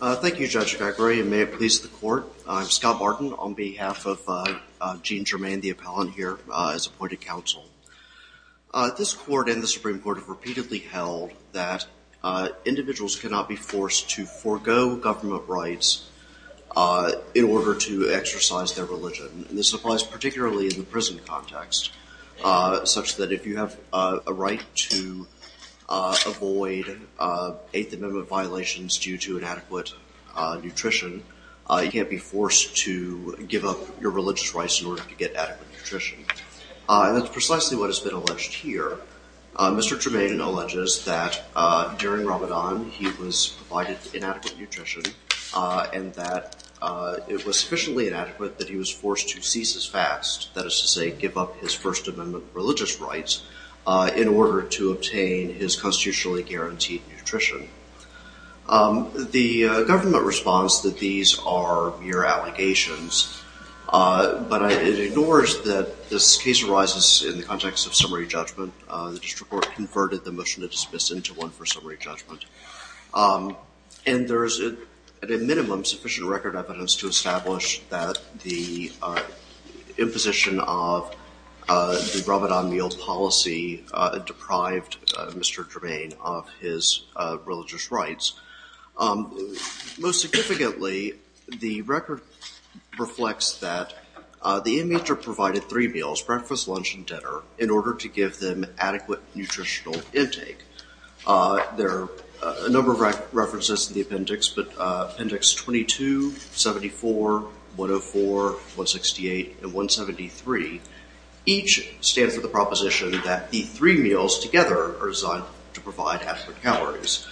Thank you Judge Gregory and may it please the court. I'm Scott Martin on behalf of Gene Germain the appellant here as appointed counsel. This court and the Supreme Court have repeatedly held that individuals cannot be forced to forego government rights in order to exercise their religion. This applies particularly in the prison context such that if you have a right to avoid Eighth Amendment violations due to inadequate nutrition you can't be forced to give up your religious rights in order to get adequate nutrition. That's precisely what has been alleged here. Mr. Germain alleges that during Ramadan he was provided inadequate nutrition and that it was sufficiently inadequate that he was forced to cease his fast, that is to say give up his First Amendment religious rights in order to obtain his constitutionally guaranteed nutrition. The government responds that these are mere allegations but it ignores that this case arises in the context of summary judgment. The district court converted the motion to dismiss into one for summary judgment and there is at a minimum sufficient record evidence to establish that the imposition of the Ramadan meal policy deprived Mr. Germain of his religious rights. Most significantly the record reflects that the Amitra provided three meals breakfast, lunch, and dinner in order to give them adequate nutritional intake. There are a number of references to the appendix but appendix 22, 74, 104, 168, and the proposition that the three meals together are designed to provide adequate calories.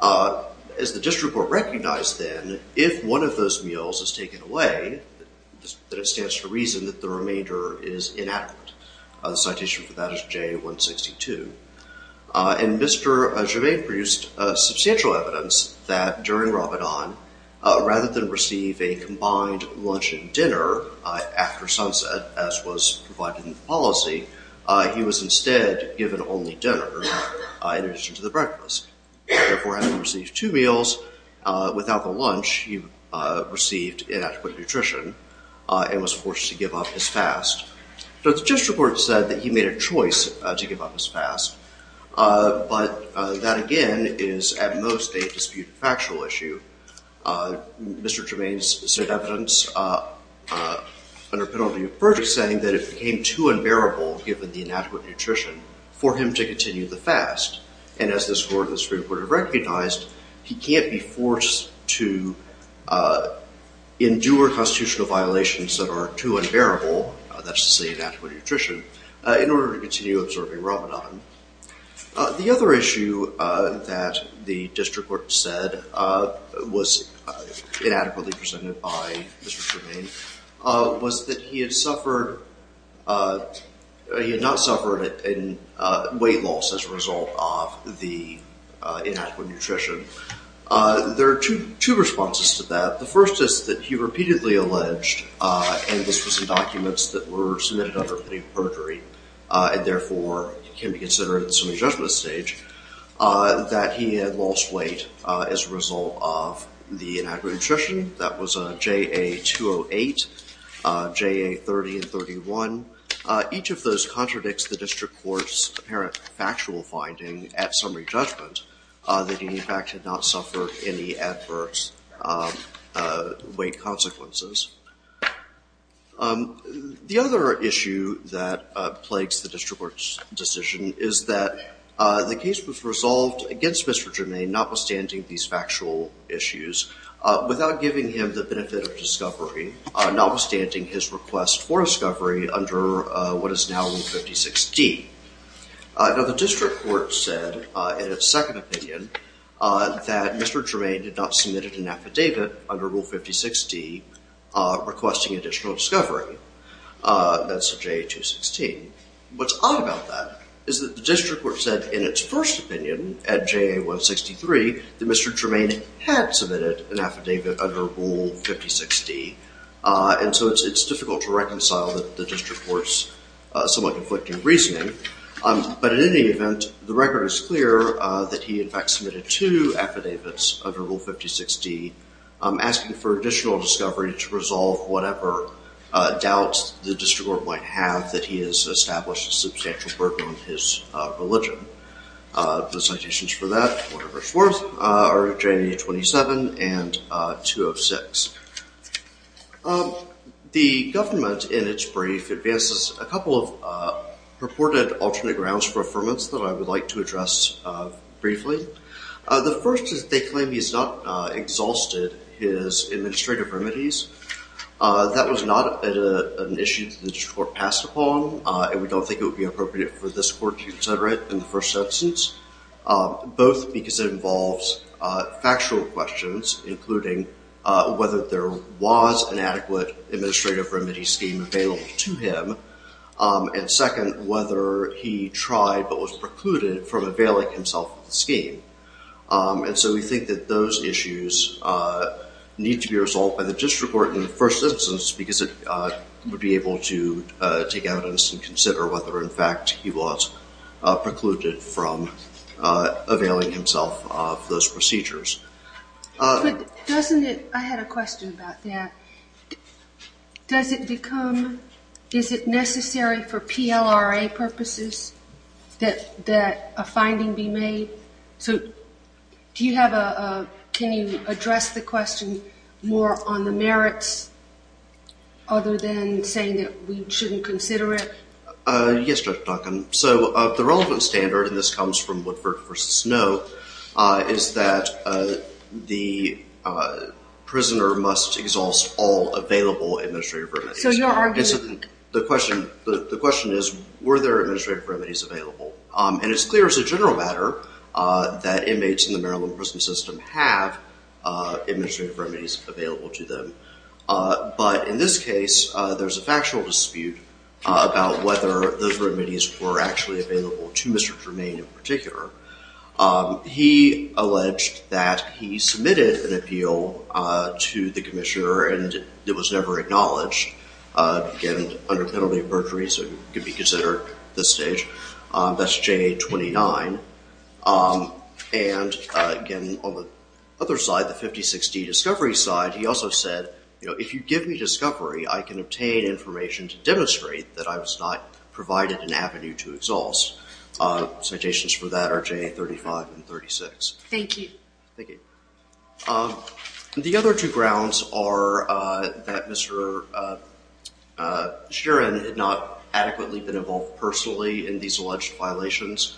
As the district will recognize then if one of those meals is taken away that it stands to reason that the remainder is inadequate. The citation for that is J162 and Mr. Germain produced substantial evidence that during Ramadan rather than receive a combined lunch and dinner after sunset as was provided in the policy he was instead given only dinner in addition to the breakfast. Therefore having received two meals without the lunch he received inadequate nutrition and was forced to give up his fast. The district court said that he made a choice to give up his fast but that again is at most a disputed factual issue. Mr. Germain's said evidence under penalty of verdict saying that it became too unbearable given the inadequate nutrition for him to continue the fast and as this court would have recognized he can't be forced to endure constitutional violations that are too unbearable that's to say inadequate nutrition in order to continue observing Ramadan. The other issue that the district court said was inadequately presented by Mr. Germain was that he had suffered, he had not suffered a weight loss as a result of the inadequate nutrition. There are two responses to that. The first is that he repeatedly alleged and this was in documents that were submitted under penalty of perjury and therefore can be considered in the semi-judgment stage that he had lost weight as a result of the inadequate nutrition. That was a JA 208, JA 30 and 31. Each of those contradicts the district court's apparent factual finding at summary judgment that he in fact had not suffered any adverse weight consequences. The other issue that plagues the district court's decision is that the case was resolved against Mr. Germain notwithstanding these factual issues without giving him the benefit of discovery, notwithstanding his request for discovery under what is now Rule 56D. Now the district court said in its second opinion that Mr. Germain did not submit an affidavit under Rule 56D requesting additional discovery. That's JA 216. What's odd about that is that the district court said in its first opinion at JA 163 that Mr. Germain had submitted an affidavit under Rule 56D. And so it's difficult to reconcile the district court's somewhat conflicting reasoning. But in any event, the record is clear that he in fact submitted two affidavits under Rule 56D asking for additional discovery to resolve whatever doubts the district court might have that he has established a substantial burden on his religion. The citations for that, whatever it's worth, are JA 27 and 206. The government in its brief advances a couple of purported alternate grounds for affirmance that I would like to address briefly. The first is they claim he's not exhausted his administrative remedies. That was not an issue the for this court to consider it in the first instance. Both because it involves factual questions including whether there was an adequate administrative remedy scheme available to him. And second, whether he tried but was precluded from availing himself of the scheme. And so we think that those issues need to be resolved by the district court in the first instance because it would be able to take evidence and consider whether in fact he was precluded from availing himself of those procedures. I had a question about that. Is it necessary for PLRA purposes that a finding be made? Can you address the question more on the merits other than saying that we shouldn't consider it? Yes, Judge Duncan. So the relevant standard, and this comes from Woodford v. Snow, is that the prisoner must exhaust all available administrative remedies. So the question is were there administrative remedies available? And it's clear as a general matter that inmates in the Maryland prison system have administrative remedies available to them. But in this case there's a factual dispute about whether those remedies were actually available to Mr. Germain in particular. He alleged that he submitted an appeal to the Commissioner and it was never acknowledged. Again, under penalty of perjury, so it could be considered at this stage. That's J-29. And again, on the other side, the 50-60 discovery side, he also said, you know, if you give me discovery I can obtain information to demonstrate that I was not provided an avenue to exhaust. Citations for that are J-35 and 36. Thank you. The other two grounds are that Mr. Sheeran had not adequately been involved personally in these alleged violations.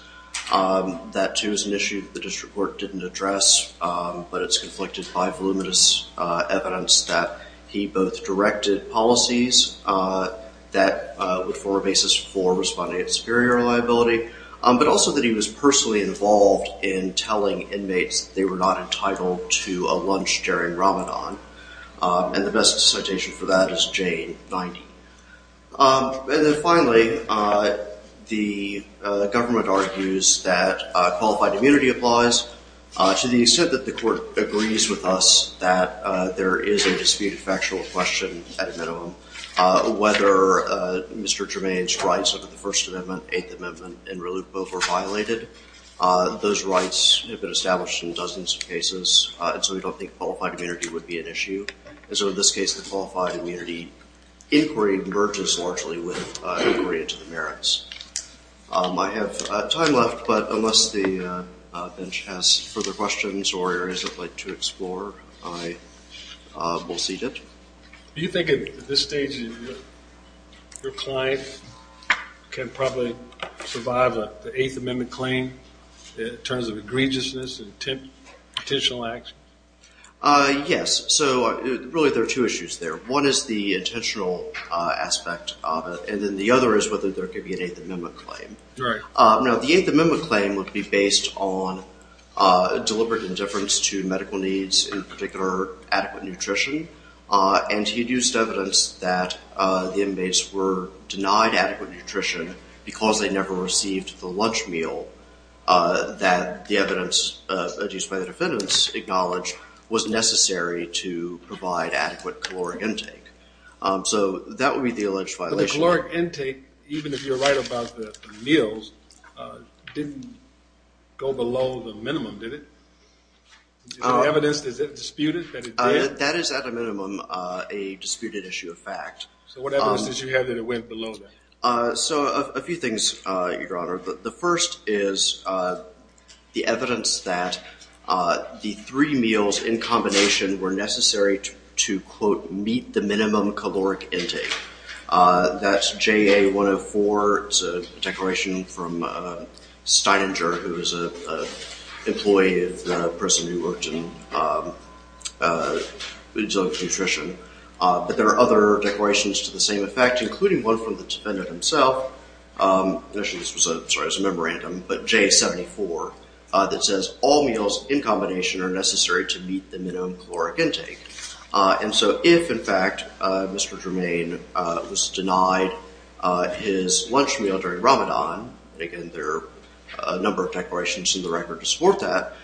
That too is an issue the district court didn't address, but it's conflicted by voluminous evidence that he both directed policies that would form a basis for responding at superior liability, but also that he was personally involved in telling inmates they were not entitled to a lunch during Ramadan. And the best citation for that is J-90. And then finally, the government argues that qualified immunity applies to the extent that the court agrees with us that there is a disputed factual question at a minimum. Whether Mr. Germain's rights under the First Amendment, Eighth Amendment, and relu both were violated. Those rights have been established in dozens of cases and so we don't think qualified immunity would be an issue. And so in this case the qualified immunity inquiry merges largely with inquiry into the merits. I have time left, but unless the bench has further questions or areas I'd like to explore, I will cede it. Do you think at this stage your client can probably survive the egregiousness of intentional action? Yes, so really there are two issues there. One is the intentional aspect and then the other is whether there could be an Eighth Amendment claim. Now the Eighth Amendment claim would be based on deliberate indifference to medical needs, in particular adequate nutrition, and he used evidence that the inmates were denied adequate nutrition because they never received the lunch meal that the evidence used by the defendants acknowledged was necessary to provide adequate caloric intake. So that would be the alleged violation. But the caloric intake, even if you're right about the meals, didn't go below the minimum, did it? Is there evidence that it disputed that it did? That is at a minimum a disputed issue of fact. So what evidence did you have that it went below that? So a few things, Your Honor. The first is the evidence that the three meals in combination were necessary to, quote, meet the minimum caloric intake. That's JA-104. It's a declaration from Steininger, who is an employee of the person who worked in Nutrition. But there are other declarations to the same effect, including one from the defendant himself. Actually, this was a memorandum, but JA-74, that says all meals in combination are necessary to meet the minimum caloric intake. And so if, in fact, Mr. Germain was denied his lunch meal during Ramadan, and again there are a number of declarations in the record to support that,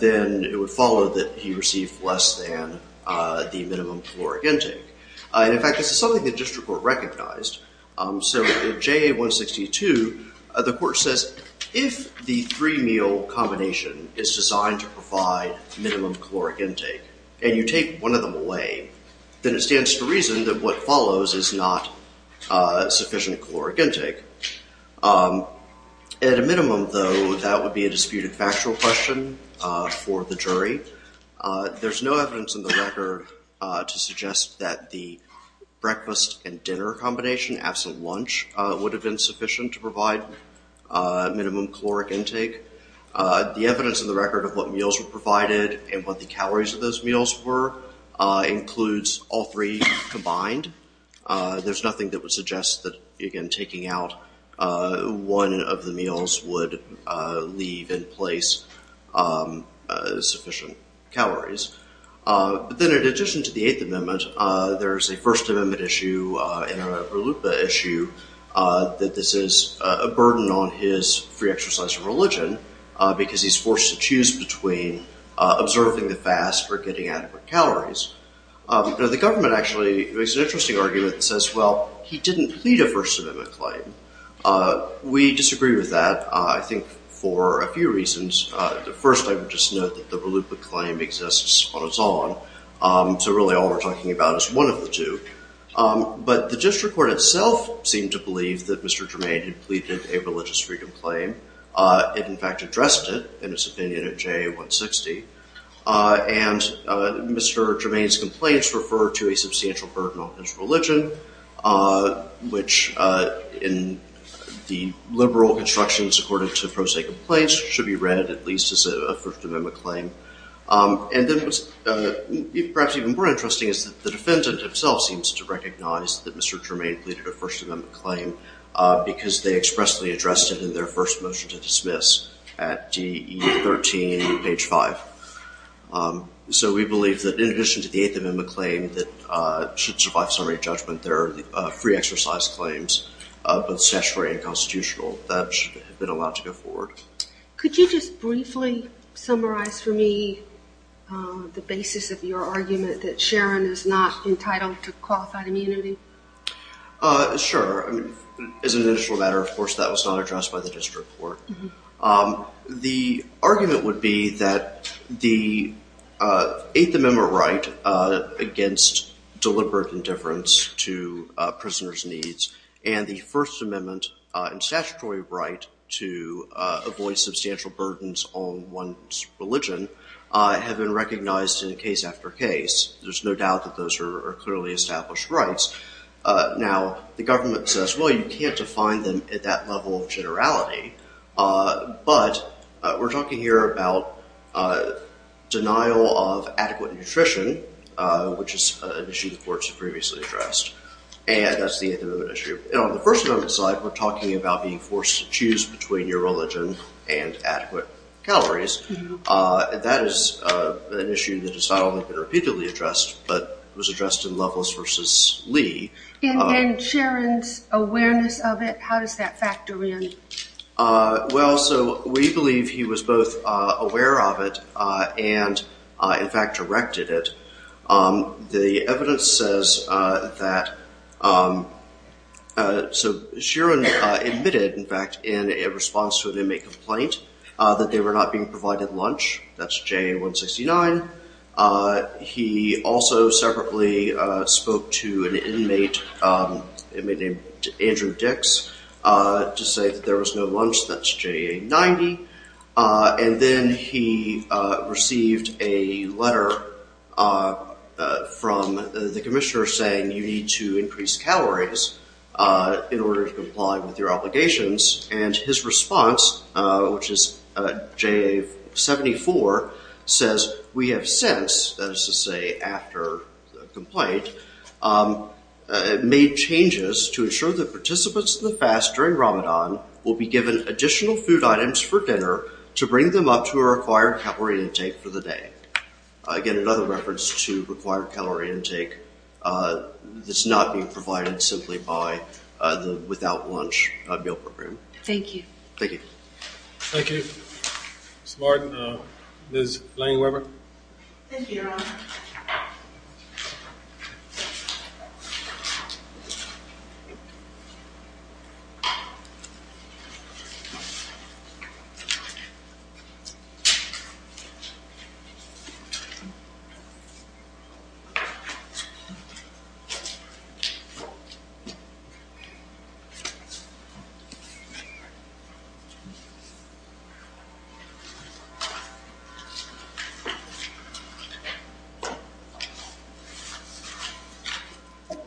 then it would follow that he received less than the minimum caloric intake. In fact, this is something the district court recognized. So in JA-162, the court says if the three meal combination is designed to provide minimum caloric intake, and you take one of them away, then it stands to reason that what follows is not sufficient caloric intake. At a minimum, though, that would be a disputed factual question for the jury. There's no evidence in the record to suggest that the breakfast and dinner combination, absent lunch, would have been sufficient to provide minimum caloric intake. The evidence in the record of what meals were provided and what the calories of those meals were includes all three combined. There's nothing that would suggest that, again, taking out one of the meals would leave in place sufficient calories. But then in addition to the Eighth Amendment, there's a First Amendment issue and an Urlupa issue that this is a burden on his free exercise of religion because he's forced to choose between observing the fast or getting adequate calories. The government actually makes an interesting argument that says, well, he didn't plead a First Amendment claim. We disagree with that, I think, for a few reasons. First, I would just note that the Urlupa claim exists on its own, so really all we're talking about is one of the two. But the district court itself seemed to believe that Mr. Germain had pleaded a religious freedom claim. It, in fact, addressed it in its opinion at JA-160, and Mr. Germain's complaints refer to a substantial burden on his religion, which in the liberal constructions according to me should be read at least as a First Amendment claim. And then what's perhaps even more interesting is that the defendant itself seems to recognize that Mr. Germain pleaded a First Amendment claim because they expressly addressed it in their first motion to dismiss at DE-13, page 5. So we believe that in addition to the Eighth Amendment claim that should survive summary judgment, there are free exercise claims, both statutory and constitutional, that should have been allowed to go forward. Could you just briefly summarize for me the basis of your argument that Sharon is not entitled to qualified immunity? Sure. As an initial matter, of course, that was not addressed by the district court. The argument would be that the Eighth Amendment right against deliberate indifference to prisoners' needs and the First Amendment and statutory right to avoid substantial burdens on one's religion have been recognized in case after case. There's no doubt that those are clearly established rights. Now, the government says, well, you can't define them at that level of generality, but we're talking here about denial of adequate nutrition, which is an issue the courts have previously addressed, and that's the Eighth Amendment issue. And on the First Amendment side, we're talking about being forced to choose between your religion and adequate calories, and that is an issue that has not only been repeatedly addressed, but was addressed in Lovels versus Lee. And Sharon's awareness of it, how does that factor in? Well, so we believe he was both aware of it and, in fact, erected it. The evidence says that Sharon admitted, in fact, in a response to an inmate complaint that they were not being provided lunch. That's JA-169. He also separately spoke to an inmate named Andrew Dix to say that there was no lunch. That's JA-90. And then he received a letter from the commissioner saying, you need to increase calories in order to comply with your obligations. And his response, which is JA-74, says, we have since, that is to say after the complaint, made changes to ensure that participants in the fast during Ramadan will be given additional food items for dinner to bring them up to a required calorie intake for the day. Again, another reference to required calorie intake that's not being provided simply by the without lunch meal program. Thank you. Thank you. Thank you. Ms. Martin, Ms. Langeweber. Thank you, Your Honor.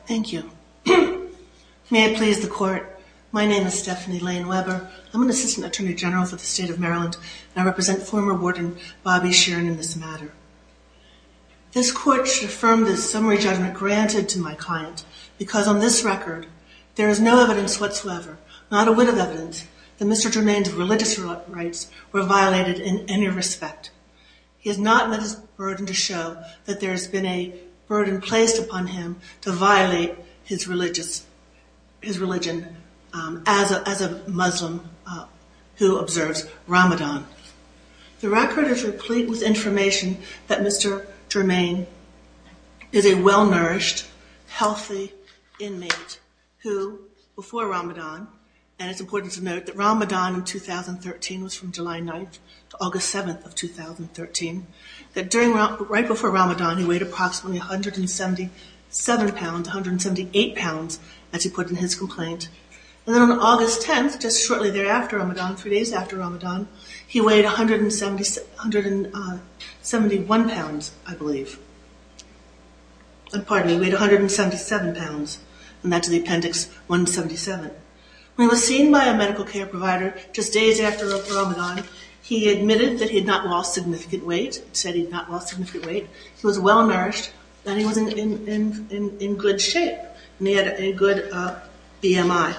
Thank you. May I please the court? My name is Stephanie Langeweber. I'm an assistant attorney general for the state of Maryland, and I represent former warden Bobby Sheeran in this matter. This court should affirm this summary judgment granted to my client because on this record, there is no evidence whatsoever, not a whit of evidence, that Mr. Jermaine's religious rights were violated in any respect. He has not met his burden to show that there has been a violation of his religion as a Muslim who observes Ramadan. The record is replete with information that Mr. Jermaine is a well-nourished, healthy inmate who, before Ramadan, and it's important to note that Ramadan in 2013 was from July 9th to August 7th of 2013, that right before Ramadan, he weighed approximately 177 pounds, 178 pounds, as he put in his complaint. And then on August 10th, just shortly thereafter Ramadan, three days after Ramadan, he weighed 171 pounds, I believe. Pardon me, he weighed 177 pounds, and that's the appendix 177. When he was seen by a medical care provider just days after Ramadan, he admitted that he had not lost significant weight, said he had not been overnourished, that he was in good shape, and he had a good BMI.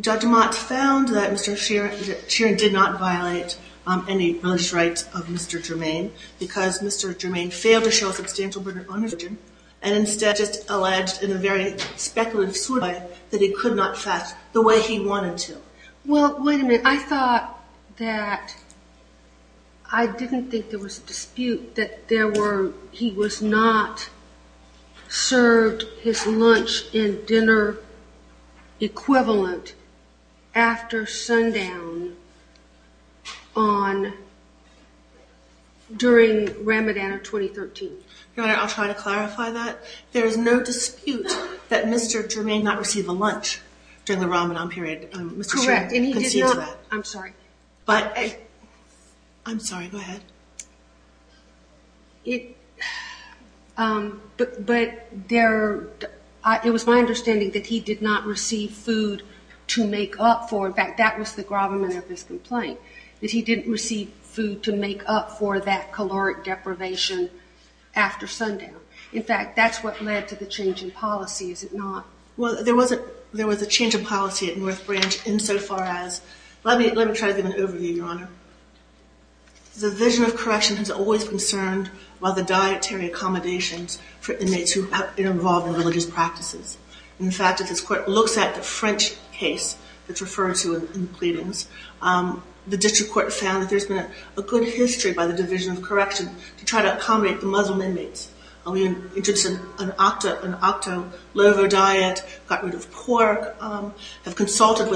Dr. Mott found that Mr. Sheeran did not violate any religious rights of Mr. Jermaine because Mr. Jermaine failed to show substantial burden on his religion, and instead just alleged in a very speculative sort of way that he could not fast the way he wanted to. Well, wait a minute, I thought that, I didn't think there was a dispute that there were, he was not served his lunch and dinner equivalent after sundown on, during Ramadan of 2013. Your Honor, I'll try to clarify that. There is no dispute that Mr. Jermaine not receive a lunch during the Ramadan period. Correct, and he did not, I'm sorry, but, I'm sorry, go ahead. But there, it was my understanding that he did not receive food to make up for, in fact, that was the gravamen of this complaint, that he didn't receive food to make up for that caloric deprivation after sundown. In fact, that's what led to the change in policy, is it not? Well, there wasn't, there was a change of policy at North Branch insofar as, let me, let me try to give an overview, Your Honor. The Division of Correction has always concerned about the dietary accommodations for inmates who have been involved in religious practices. In fact, if this court looks at the French case that's referred to in the pleadings, the district court found that there's been a good history by the Division of Correction to try to an octo-lovo diet, got rid of pork, have consulted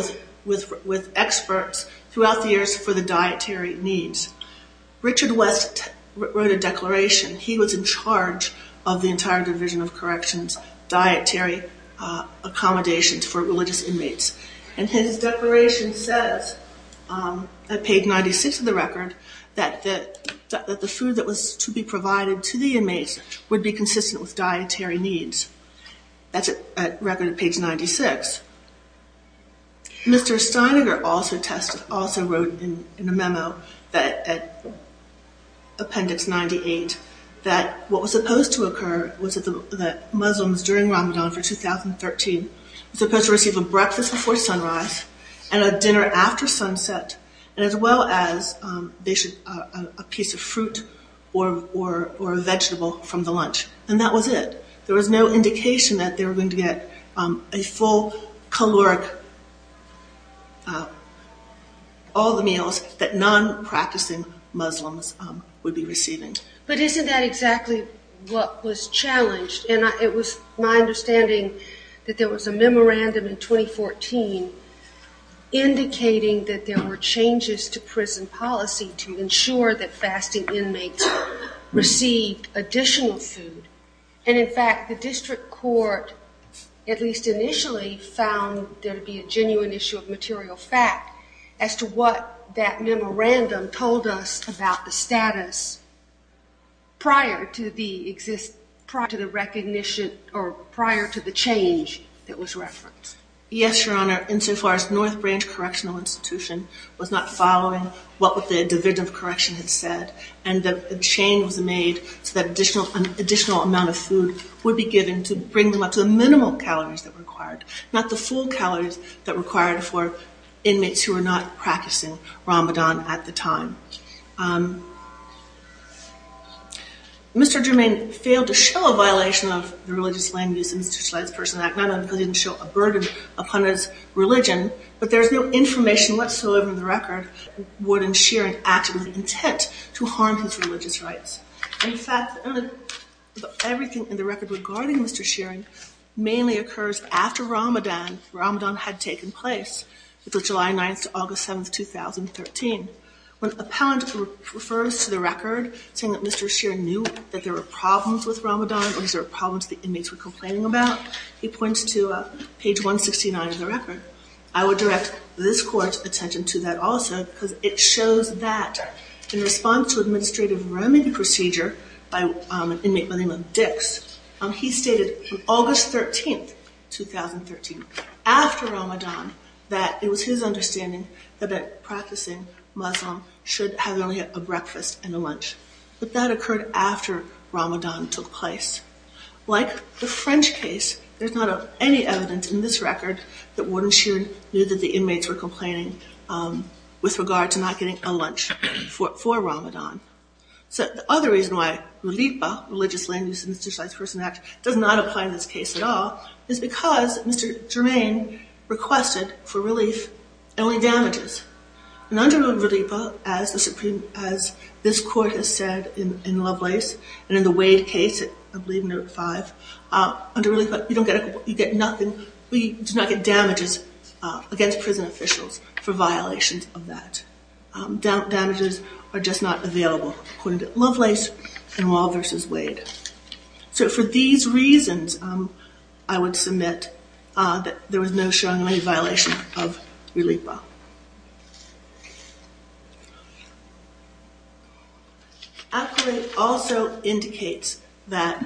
with experts throughout the years for the dietary needs. Richard West wrote a declaration. He was in charge of the entire Division of Correction's dietary accommodations for religious inmates, and his declaration says, at page 96 of the record, that the food that was to be consumed was to be consumed before sunrise. That's a record at page 96. Mr. Steineger also tested, also wrote in a memo that, appendix 98, that what was supposed to occur was that Muslims during Ramadan for 2013 were supposed to receive a breakfast before sunrise and a dinner after sunset, and as well as a piece of fruit or vegetable from the lunch. And that was it. There was no indication that they were going to get a full caloric, all the meals that non-practicing Muslims would be receiving. But isn't that exactly what was challenged? And it was my understanding that there was a memorandum in 2014 indicating that there were changes to prison policy to ensure that fasting inmates received additional food. And in fact, the district court, at least initially, found there to be a genuine issue of material fact as to what that memorandum told us about the status prior to the recognition, or prior to the change that was referenced. Yes, Your Honor, insofar as North Branch Correctional Institution was not following what the Division of Correction had said, and that a change was made so that an additional amount of food would be given to bring them up to the minimal calories that were required, not the full calories that were required for inmates who were not practicing Ramadan at the time. Mr. Germain failed to show a violation of the Religious Land Use and Institutionalized Persons Act, not only because he didn't show a burden upon his religion, but there's no information whatsoever in the record that would ensure an act with intent to harm his religious rights. In fact, everything in the record regarding Mr. Shearing mainly occurs after Ramadan had taken place, which was July 9th to August 7th, 2013. When Appellant refers to the record saying that Mr. Shearing knew that there were problems with Ramadan or that there were problems that the inmates were complaining about, he points to page 169 of the record. I would direct this Court's attention to that also because it shows that in response to Administrative Remedy Procedure by an inmate by the name of Dix, he stated on August 13th, 2013, after Ramadan, that it was his understanding that a practicing Muslim should have only a breakfast and a lunch. But that occurred after Ramadan took place. Like the French case, there's not any evidence in this record that Warden Shearing knew that the inmates were complaining with regard to not getting a lunch for Ramadan. So, the other reason why Relipa, Religious Land Use and Institutionalized Persons Act, does not apply in this case at all is because Mr. Germain requested for relief and only damages. And under Relipa, as this Court has said in Lovelace and in the Wade case, I believe in Article 5, under Relipa, you do not get damages against prison officials for violations of that. Damages are just not available according to Lovelace and Wahl versus Wade. So, for these reasons, I would submit that there was no showing of any violation of Relipa. Appellant also indicates that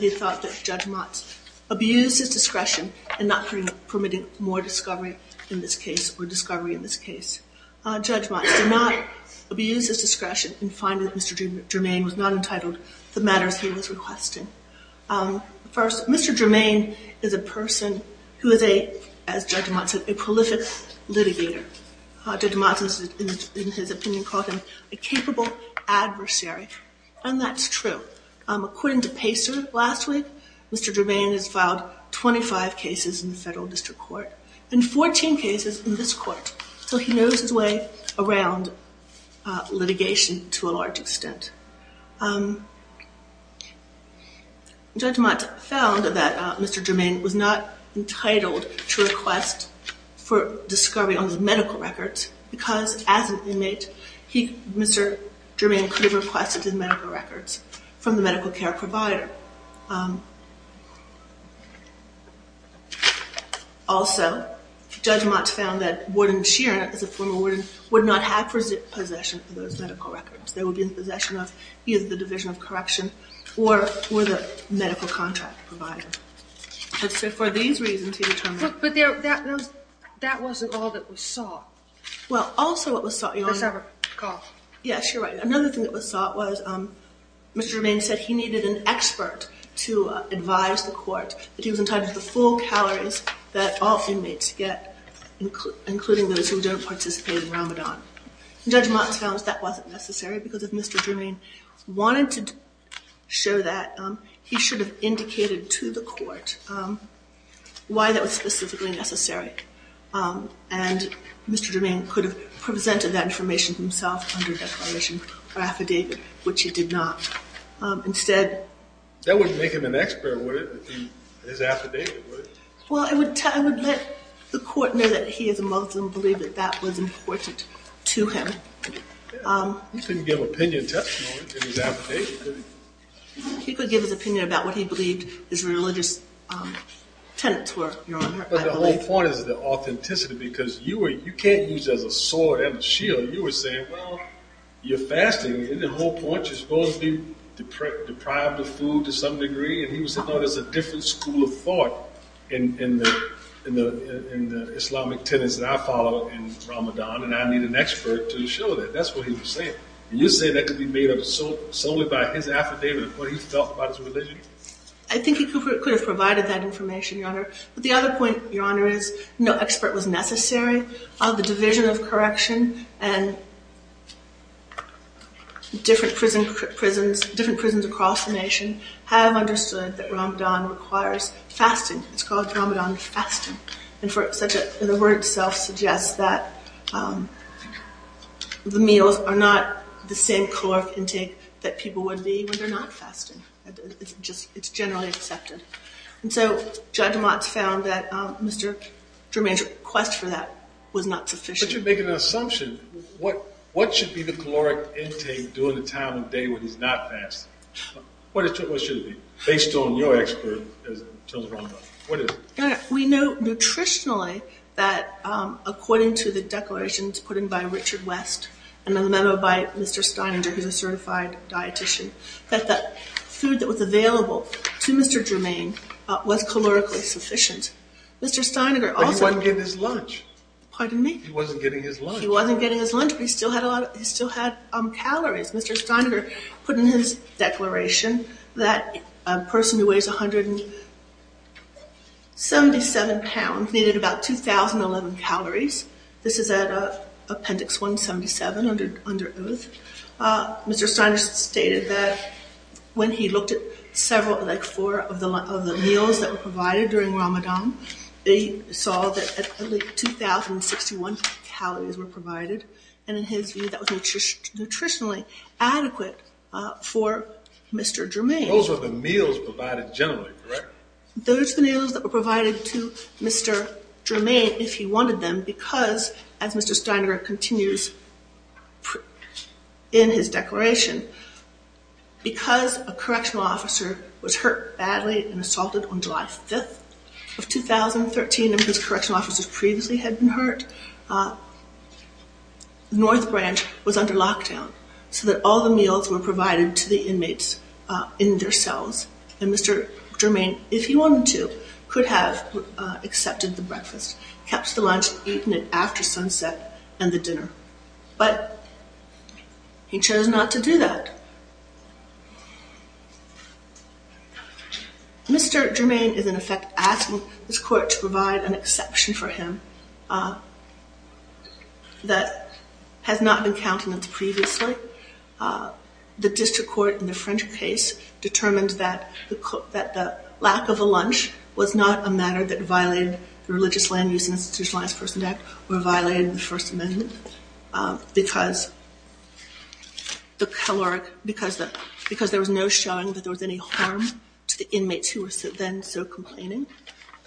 he thought that Judge Motz abused his discretion in not permitting more discovery in this case or discovery in this case. Judge Motz did not abuse his discretion in finding that Mr. Germain was not entitled to the matters he was requesting. First, Mr. Germain is a person who is a, as Judge Motz said, a prolific litigator. Judge Motz, in his opinion, called him a capable adversary. And that's true. According to Pacer, last week, Mr. Germain has filed 25 cases in the Federal District Court and 14 cases in this Court. So, he knows his way around litigation to a large extent. Judge Motz found that Mr. Germain was not entitled to request for discovery on his medical records because, as an inmate, Mr. Germain could have requested his medical records from the medical care provider. Also, Judge Motz found that Warden Sheeran, as a former warden, would not have possession of those medical records. They would be in possession of either the Division of Correction or the medical contract provider. So, for these reasons, he determined... But that wasn't all that was sought. Yes, you're right. Another thing that was sought was, Mr. Germain said he needed an expert to advise the Court that he was entitled to the full calories that all inmates get, including those who don't participate in Ramadan. Judge Motz found that wasn't necessary because if Mr. Germain wanted to show that, he should have indicated to the Court why that was specifically necessary. And Mr. Germain could have presented that information himself under declaration or affidavit, which he did not. Instead... That wouldn't make him an expert, would it? His affidavit, would it? Well, I would let the Court know that he, as a Muslim, believed that that was important to him. He couldn't give an opinion testimony in his affidavit, could he? He could give his opinion about what he believed his religious tenets were, Your Honor, I believe. I think the whole point is the authenticity, because you can't use it as a sword and a shield. You were saying, well, you're fasting, and the whole point, you're supposed to be deprived of food to some degree? And he was saying, no, there's a different school of thought in the Islamic tenets that I follow in Ramadan, and I need an expert to show that. That's what he was saying. And you're saying that could be made up solely by his affidavit of what he felt about his religion? I think he could have provided that information, Your Honor. But the other point, Your Honor, is no expert was necessary. The Division of Correction and different prisons across the nation have understood that Ramadan requires fasting. It's called Ramadan fasting. And the word itself suggests that the meals are not the same caloric intake that people would be when they're not fasting. It's generally accepted. And so Judge Motz found that Mr. Druman's request for that was not sufficient. But you're making an assumption. What should be the caloric intake during the time of day when he's not fasting? What should it be, based on your expert in terms of Ramadan? What is it? We know nutritionally that according to the declarations put in by Richard West and the memo by Mr. Steininger, who's a certified dietitian, that the food that was available to Mr. Druman was calorically sufficient. But he wasn't getting his lunch. Pardon me? He wasn't getting his lunch. He wasn't getting his lunch, but he still had calories. Mr. Steiner put in his declaration that a person who weighs 177 pounds needed about 2,011 calories. This is at Appendix 177 under oath. Mr. Steiner stated that when he looked at several, like four, of the meals that were provided during Ramadan, he saw that at least 2,061 calories were provided. And in his view, that was nutritionally adequate for Mr. Druman. Those were the meals provided generally, correct? Those were the meals that were provided to Mr. Druman if he wanted them because, as Mr. Steiner continues in his declaration, because a correctional officer was hurt badly and assaulted on July 5th of 2013, and because correctional officers previously had been hurt, North Branch was under lockdown so that all the meals were provided to the inmates in their cells. And Mr. Druman, if he wanted to, could have accepted the breakfast, kept the lunch, eaten it after sunset, and the dinner. But he chose not to do that. Mr. Druman is, in effect, asking this court to provide an exception for him that has not been countenanced previously. The district court in the French case determined that the lack of a lunch was not a matter that violated the Religious Land Use and Institutionalized Persons Act or violated the First Amendment because there was no showing that there was any harm to the inmates who were then still complaining.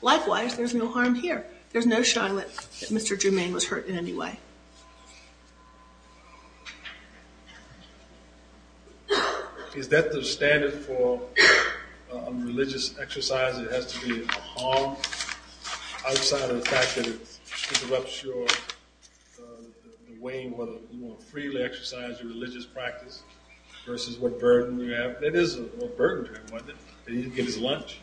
Likewise, there's no harm here. There's no showing that Mr. Druman was hurt in any way. Is that the standard for a religious exercise? It has to be a harm outside of the fact that it disrupts your way, whether you want to freely exercise your religious practice versus what burden you have? It is a burden to him, wasn't it, that he didn't get his lunch?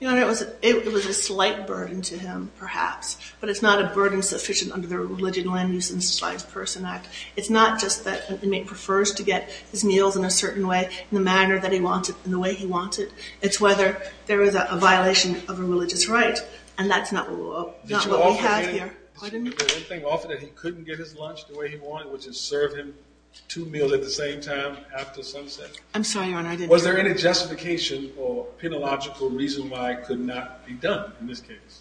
Your Honor, it was a slight burden to him, perhaps, but it's not a burden sufficient under the Religious Land Use and Institutionalized Persons Act. It's not just that an inmate prefers to get his meals in a certain way, in the manner that he wanted, in the way he wanted. It's whether there was a violation of a religious right, and that's not what we have here. Did you offer him? Pardon me? Did you offer him that he couldn't get his lunch the way he wanted, which is serve him two meals at the same time after sunset? I'm sorry, Your Honor, I didn't hear you. Was there any justification or penological reason why it could not be done in this case?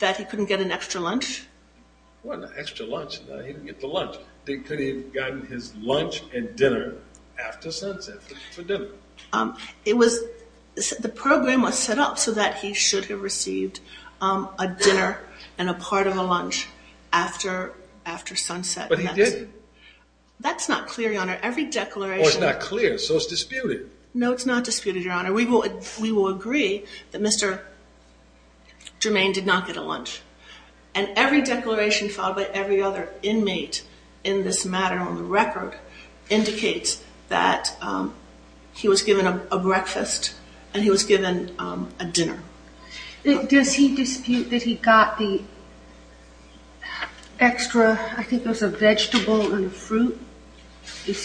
That he couldn't get an extra lunch? What extra lunch? He didn't get the lunch. Couldn't he have gotten his lunch and dinner after sunset for dinner? The program was set up so that he should have received a dinner and a part of a lunch after sunset. But he didn't. That's not clear, Your Honor. Every declaration… No, it's not clear, so it's disputed. No, it's not disputed, Your Honor. We will agree that Mr. Germain did not get a lunch. And every declaration filed by every other inmate in this matter on the record indicates that he was given a breakfast and he was given a dinner. Does he dispute that he got the extra, I think it was a vegetable and a fruit? Is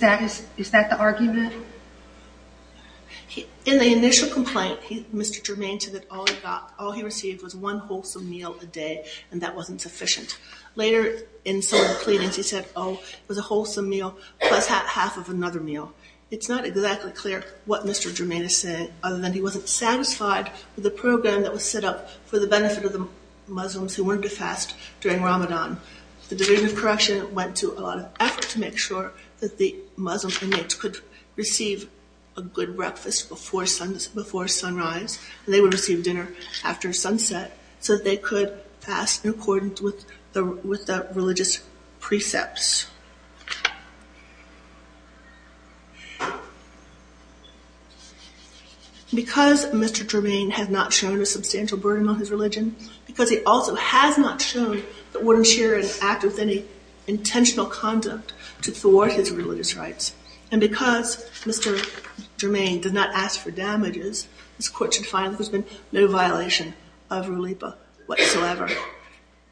that the argument? In the initial complaint, Mr. Germain said that all he received was one wholesome meal a day and that wasn't sufficient. Later in some of the pleadings, he said, oh, it was a wholesome meal plus half of another meal. It's not exactly clear what Mr. Germain is saying other than he wasn't satisfied with the program that was set up for the benefit of the Muslims who wanted to fast during Ramadan. The Division of Correction went to a lot of effort to make sure that the Muslim inmates could receive a good breakfast before sunrise, and they would receive dinner after sunset so that they could fast in accordance with the religious precepts. Because Mr. Germain has not shown a substantial burden on his religion, because he also has not shown that wouldn't share an act with any intentional conduct to thwart his religious rights, and because Mr. Germain did not ask for damages, this Court should find that there's been no violation of Rulipa whatsoever.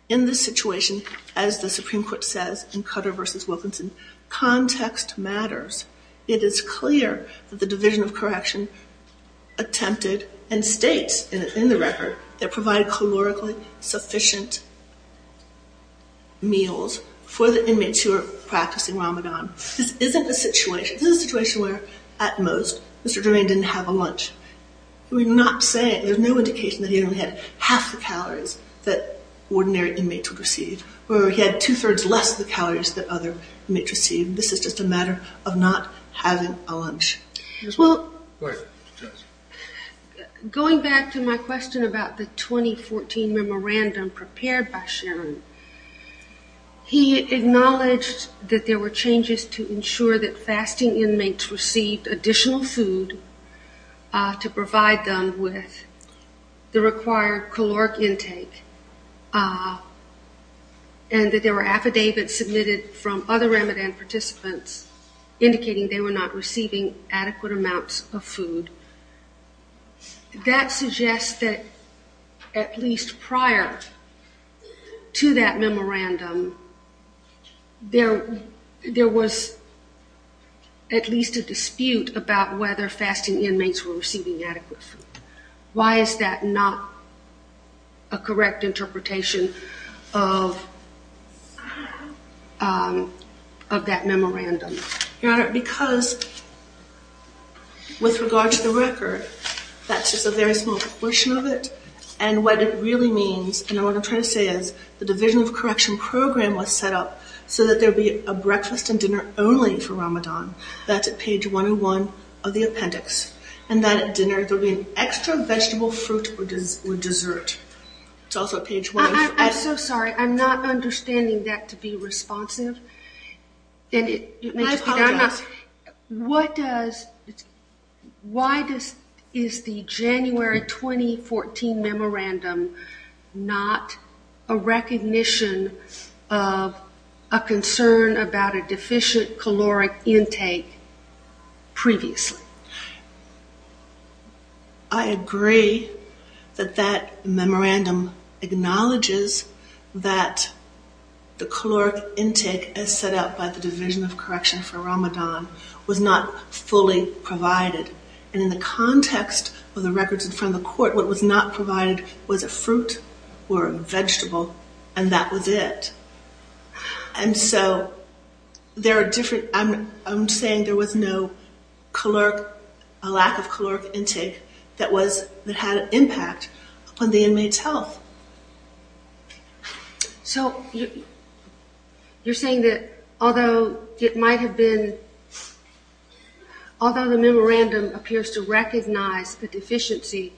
In this situation, as the Supreme Court says in Cutter v. Wilkinson, context matters. It is clear that the Division of Correction attempted, and states in the record, that provided calorically sufficient meals for the inmates who are practicing Ramadan. This isn't a situation, this is a situation where, at most, Mr. Germain didn't have a lunch. We're not saying, there's no indication that he only had half the calories that ordinary inmates would receive, or he had two-thirds less the calories that other inmates received. This is just a matter of not having a lunch. Well, going back to my question about the 2014 memorandum prepared by Sharon, he acknowledged that there were changes to ensure that fasting inmates received additional food to provide them with the required caloric intake, and that there were affidavits submitted from other Ramadan participants indicating they were not receiving adequate amounts of food. That suggests that, at least prior to that memorandum, there was at least a dispute about whether fasting inmates were receiving adequate food. Why is that not a correct interpretation of that memorandum? Your Honor, because, with regard to the record, that's just a very small portion of it, and what it really means, and what I'm trying to say is, the Division of Correction program was set up so that there would be a breakfast and dinner only for Ramadan. That's at page 101 of the appendix. And then at dinner, there would be an extra vegetable, fruit, or dessert. It's also at page 1 of the appendix. I'm so sorry. I'm not understanding that to be responsive. I apologize. Why is the January 2014 memorandum not a recognition of a concern about a deficient caloric intake previously? I agree that that memorandum acknowledges that the caloric intake as set up by the Division of Correction for Ramadan was not fully provided. And in the context of the records in front of the court, what was not provided was a fruit or a vegetable, and that was it. And so, there are different, I'm saying there was no caloric, a lack of caloric intake that was, that had an impact on the inmate's health. So, you're saying that, although it might have been, although the memorandum appears to recognize the deficiency,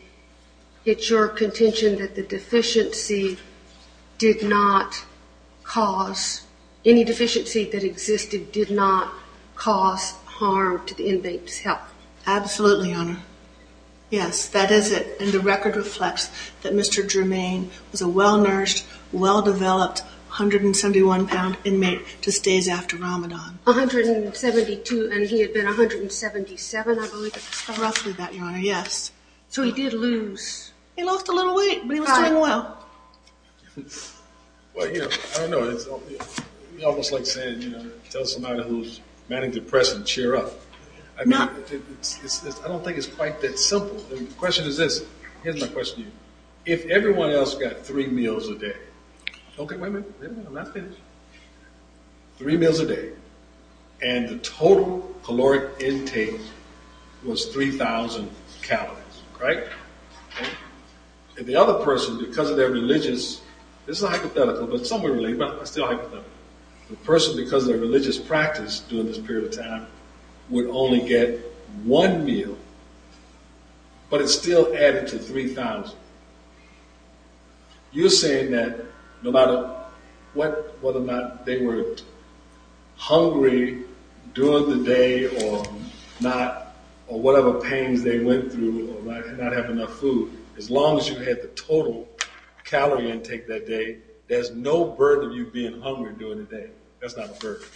it's your contention that the deficiency did not cause, any deficiency that existed did not cause harm to the inmate's health? Absolutely, Your Honor. Yes, that is it. And the record reflects that Mr. Germain was a well-nourished, well-developed 171-pound inmate just days after Ramadan. 172, and he had been 177, I believe, at the time? Roughly that, Your Honor, yes. So, he did lose. He lost a little weight, but he was doing well. Well, you know, I don't know, it's almost like saying, you know, tell somebody who's manning the press and cheer up. I mean, I don't think it's quite that simple. The question is this, here's my question to you. If everyone else got three meals a day, okay, wait a minute, I'm not finished. Three meals a day, and the total caloric intake was 3,000 calories, right? And the other person, because of their religious... This is hypothetical, but somewhere related, but still hypothetical. The person, because of their religious practice during this period of time, would only get one meal, but it still added to 3,000. You're saying that no matter what, whether or not they were hungry during the day or not, or whatever pains they went through, or might not have enough food, as long as you had the total calorie intake that day, there's no burden of you being hungry during the day. That's not a burden.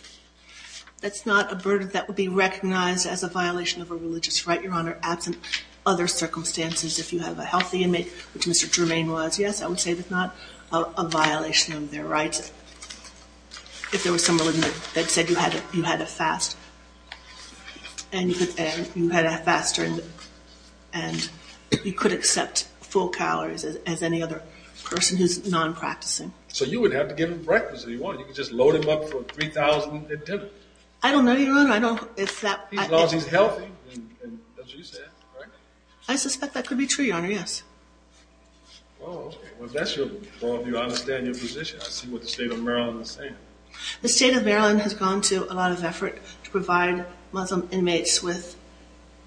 That's not a burden that would be recognized as a violation of a religious right, Your Honor, absent other circumstances. If you have a healthy inmate, which Mr. Germain was, yes, I would say that's not a violation of their rights. If there was someone that said you had a fast, and you could accept full calories as any other person who's non-practicing. So you would have to give him breakfast if you wanted. You could just load him up for 3,000 at dinner. I don't know, Your Honor. I don't... As long as he's healthy, as you said, right? I suspect that could be true, Your Honor, yes. Well, if that's your view, I understand your position. I see what the State of Maryland is saying. The State of Maryland has gone to a lot of effort to provide Muslim inmates with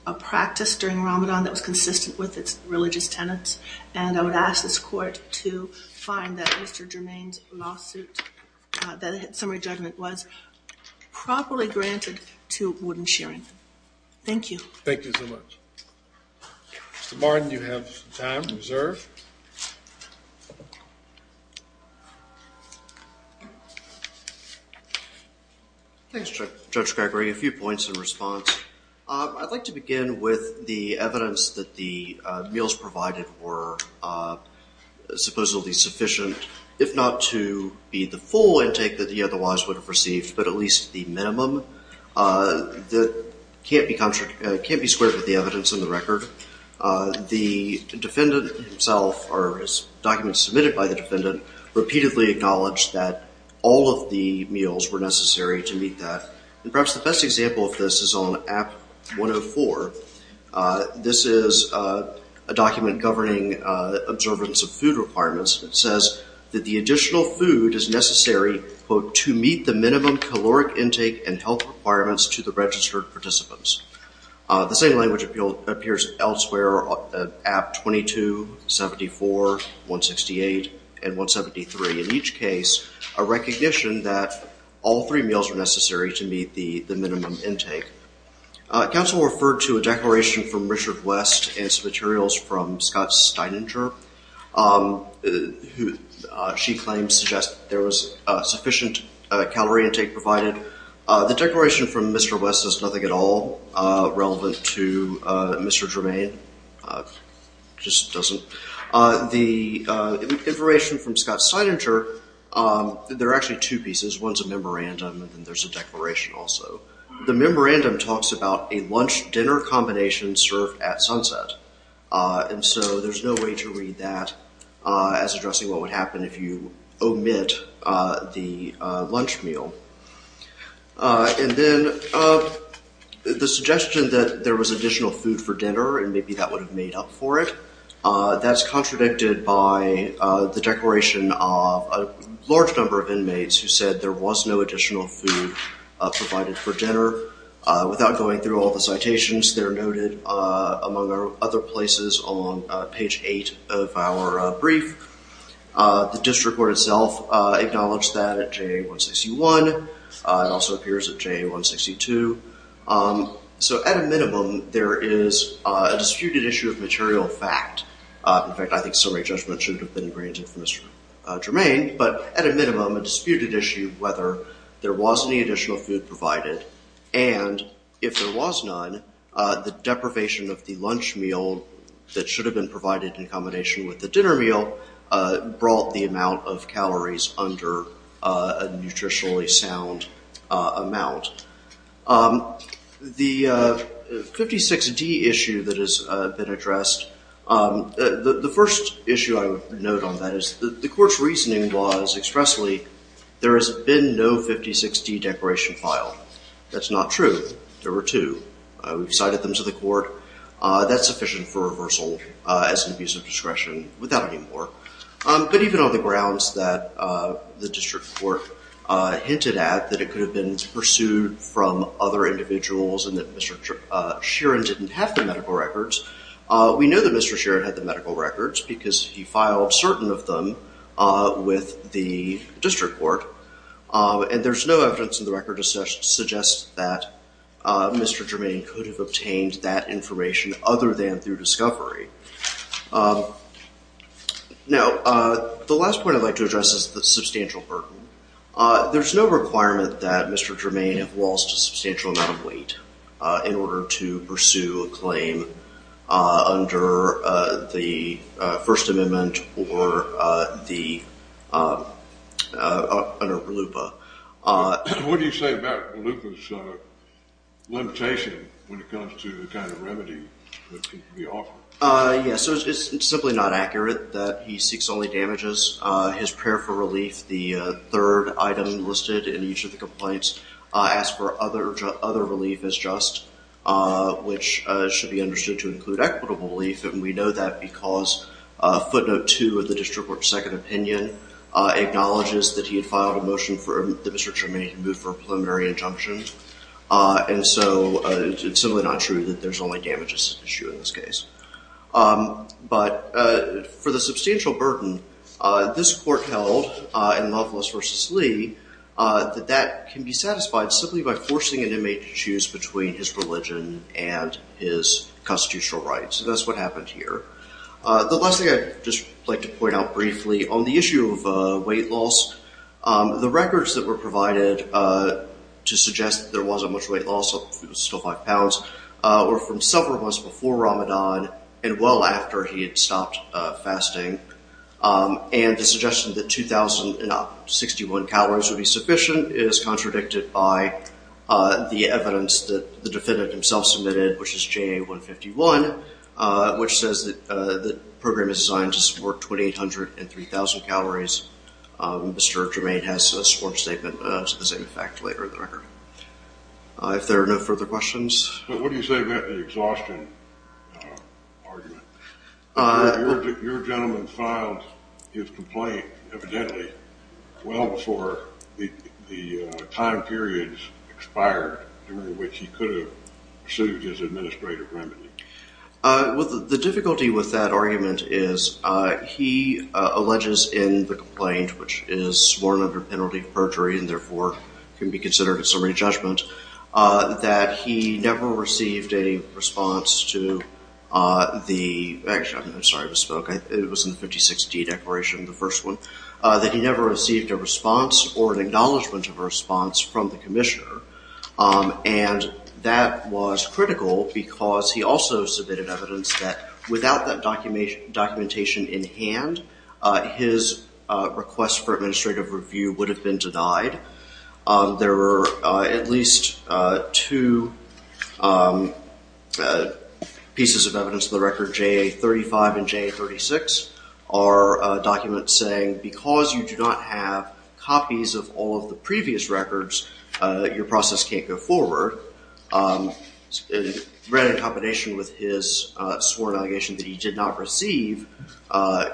a practice during Ramadan that was consistent with its religious tenets, and I would ask this Court to find that Mr. Germain's lawsuit, that summary judgment was properly granted to Warden Shearing. Thank you. Thank you so much. Mr. Martin, you have time reserved. Thanks, Judge Gregory. A few points in response. I'd like to begin with the evidence that the meals provided were supposedly sufficient, if not to be the full intake that he otherwise would have received, but at least the minimum that can't be squared with the evidence in the record. The defendant himself, or documents submitted by the defendant, repeatedly acknowledged that all of the meals were necessary to meet that. And perhaps the best example of this is on App 104. This is a document governing observance of food requirements. It says that the additional food is necessary, quote, to meet the minimum caloric intake and health requirements to the registered participants. The same language appears elsewhere on App 22, 74, 168, and 173. In each case, a recognition that all three meals are necessary to meet the minimum intake. Counsel referred to a declaration from Richard West and some materials from Scott Steininger, who she claims suggests there was sufficient calorie intake provided. The declaration from Mr. West does nothing at all relevant to Mr. Germain, just doesn't. The information from Scott Steininger, there are actually two pieces. One is a memorandum, and then there's a declaration also. The memorandum talks about a lunch-dinner combination served at sunset. And so there's no way to read that as addressing what would happen if you omit the lunch meal. And then the suggestion that there was additional food for dinner, and maybe that would have made up for it, that's contradicted by the declaration of a large number of inmates who said there was no additional food provided for dinner. Without going through all the citations, they're noted, among other places, on page 8 of our brief. The district court itself acknowledged that at JA-161. It also appears at JA-162. So at a minimum, there is a disputed issue of material fact. In fact, I think summary judgment should have been granted from Mr. Germain. But at a minimum, a disputed issue of whether there was any additional food provided. And if there was none, the deprivation of the lunch meal that should have been provided in combination with the dinner meal brought the amount of calories under a nutritionally sound amount. The 56D issue that has been addressed, the first issue I would note on that is the court's reasoning was expressly there has been no 56D declaration filed. That's not true. There were two. We've cited them to the court. That's sufficient for reversal as an abuse of discretion without any more. But even on the grounds that the district court hinted at that it could have been pursued from other individuals and that Mr. Sheeran didn't have the medical records, we know that Mr. Sheeran had the medical records because he filed certain of them with the district court. And there's no evidence in the record to suggest that Mr. Germain could have obtained that information other than through discovery. Now, the last point I'd like to address is the substantial burden. There's no requirement that Mr. Germain have lost a substantial amount of weight in order to pursue a claim under the First Amendment or under RLUIPA. What do you say about RLUIPA's limitation when it comes to the kind of remedy that can be offered? Yes, it's simply not accurate that he seeks only damages. His prayer for relief, the third item listed in each of the complaints, asks for other relief as just, which should be understood to include equitable relief. And we know that because footnote two of the district court's second opinion acknowledges that he had filed a motion for Mr. Germain to move for a preliminary injunction. And so it's simply not true that there's only damages issue in this case. But for the substantial burden, this court held in Loveless v. Lee, that that can be satisfied simply by forcing an inmate to choose between his religion and his constitutional rights. And that's what happened here. The last thing I'd just like to point out briefly, on the issue of weight loss, the records that were provided to suggest that there wasn't much weight loss, it was still five pounds, were from several months before Ramadan and well after he had stopped fasting. And the suggestion that 2,061 calories would be sufficient is contradicted by the evidence that the defendant himself submitted, which is JA 151, which says that the program is designed to support 2,800 and 3,000 calories. Mr. Germain has a sworn statement to the same effect later in the record. If there are no further questions. But what do you say about the exhaustion argument? Your gentleman filed his complaint evidently well before the time periods expired during which he could have pursued his administrative remedy. Well, the difficulty with that argument is he alleges in the complaint, which is sworn under penalty of perjury and therefore can be considered a summary judgment, that he never received a response to the, actually, I'm sorry, I misspoke. It was in the 56D declaration, the first one, that he never received a response or an acknowledgment of a response from the commissioner. And that was critical because he also submitted evidence that without that documentation in hand, his request for administrative review would have been denied. There were at least two pieces of evidence in the record, JA 35 and JA 36, are documents saying because you do not have copies of all of the previous records, your process can't go forward. And in combination with his sworn allegation that he did not receive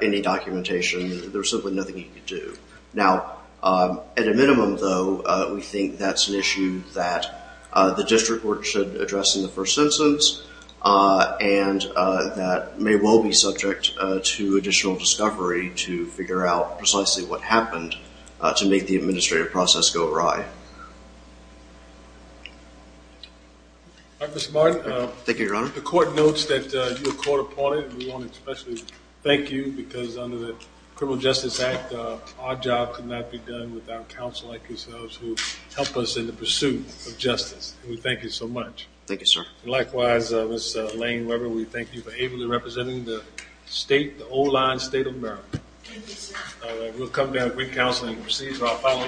any documentation, there was simply nothing he could do. Now, at a minimum, though, we think that's an issue that the district court should address in the first instance and that may well be subject to additional discovery to figure out precisely what happened to make the administrative process go awry. All right, Mr. Martin. Thank you, Your Honor. The court notes that you were court-appointed. We want to especially thank you because under the Criminal Justice Act, our job could not be done without counsel like yourselves who help us in the pursuit of justice. We thank you so much. Thank you, sir. Likewise, Ms. Lane Weber, we thank you for ably representing the state, the old line state of Maryland. Thank you, sir. We'll come down with counseling and proceed to our final case.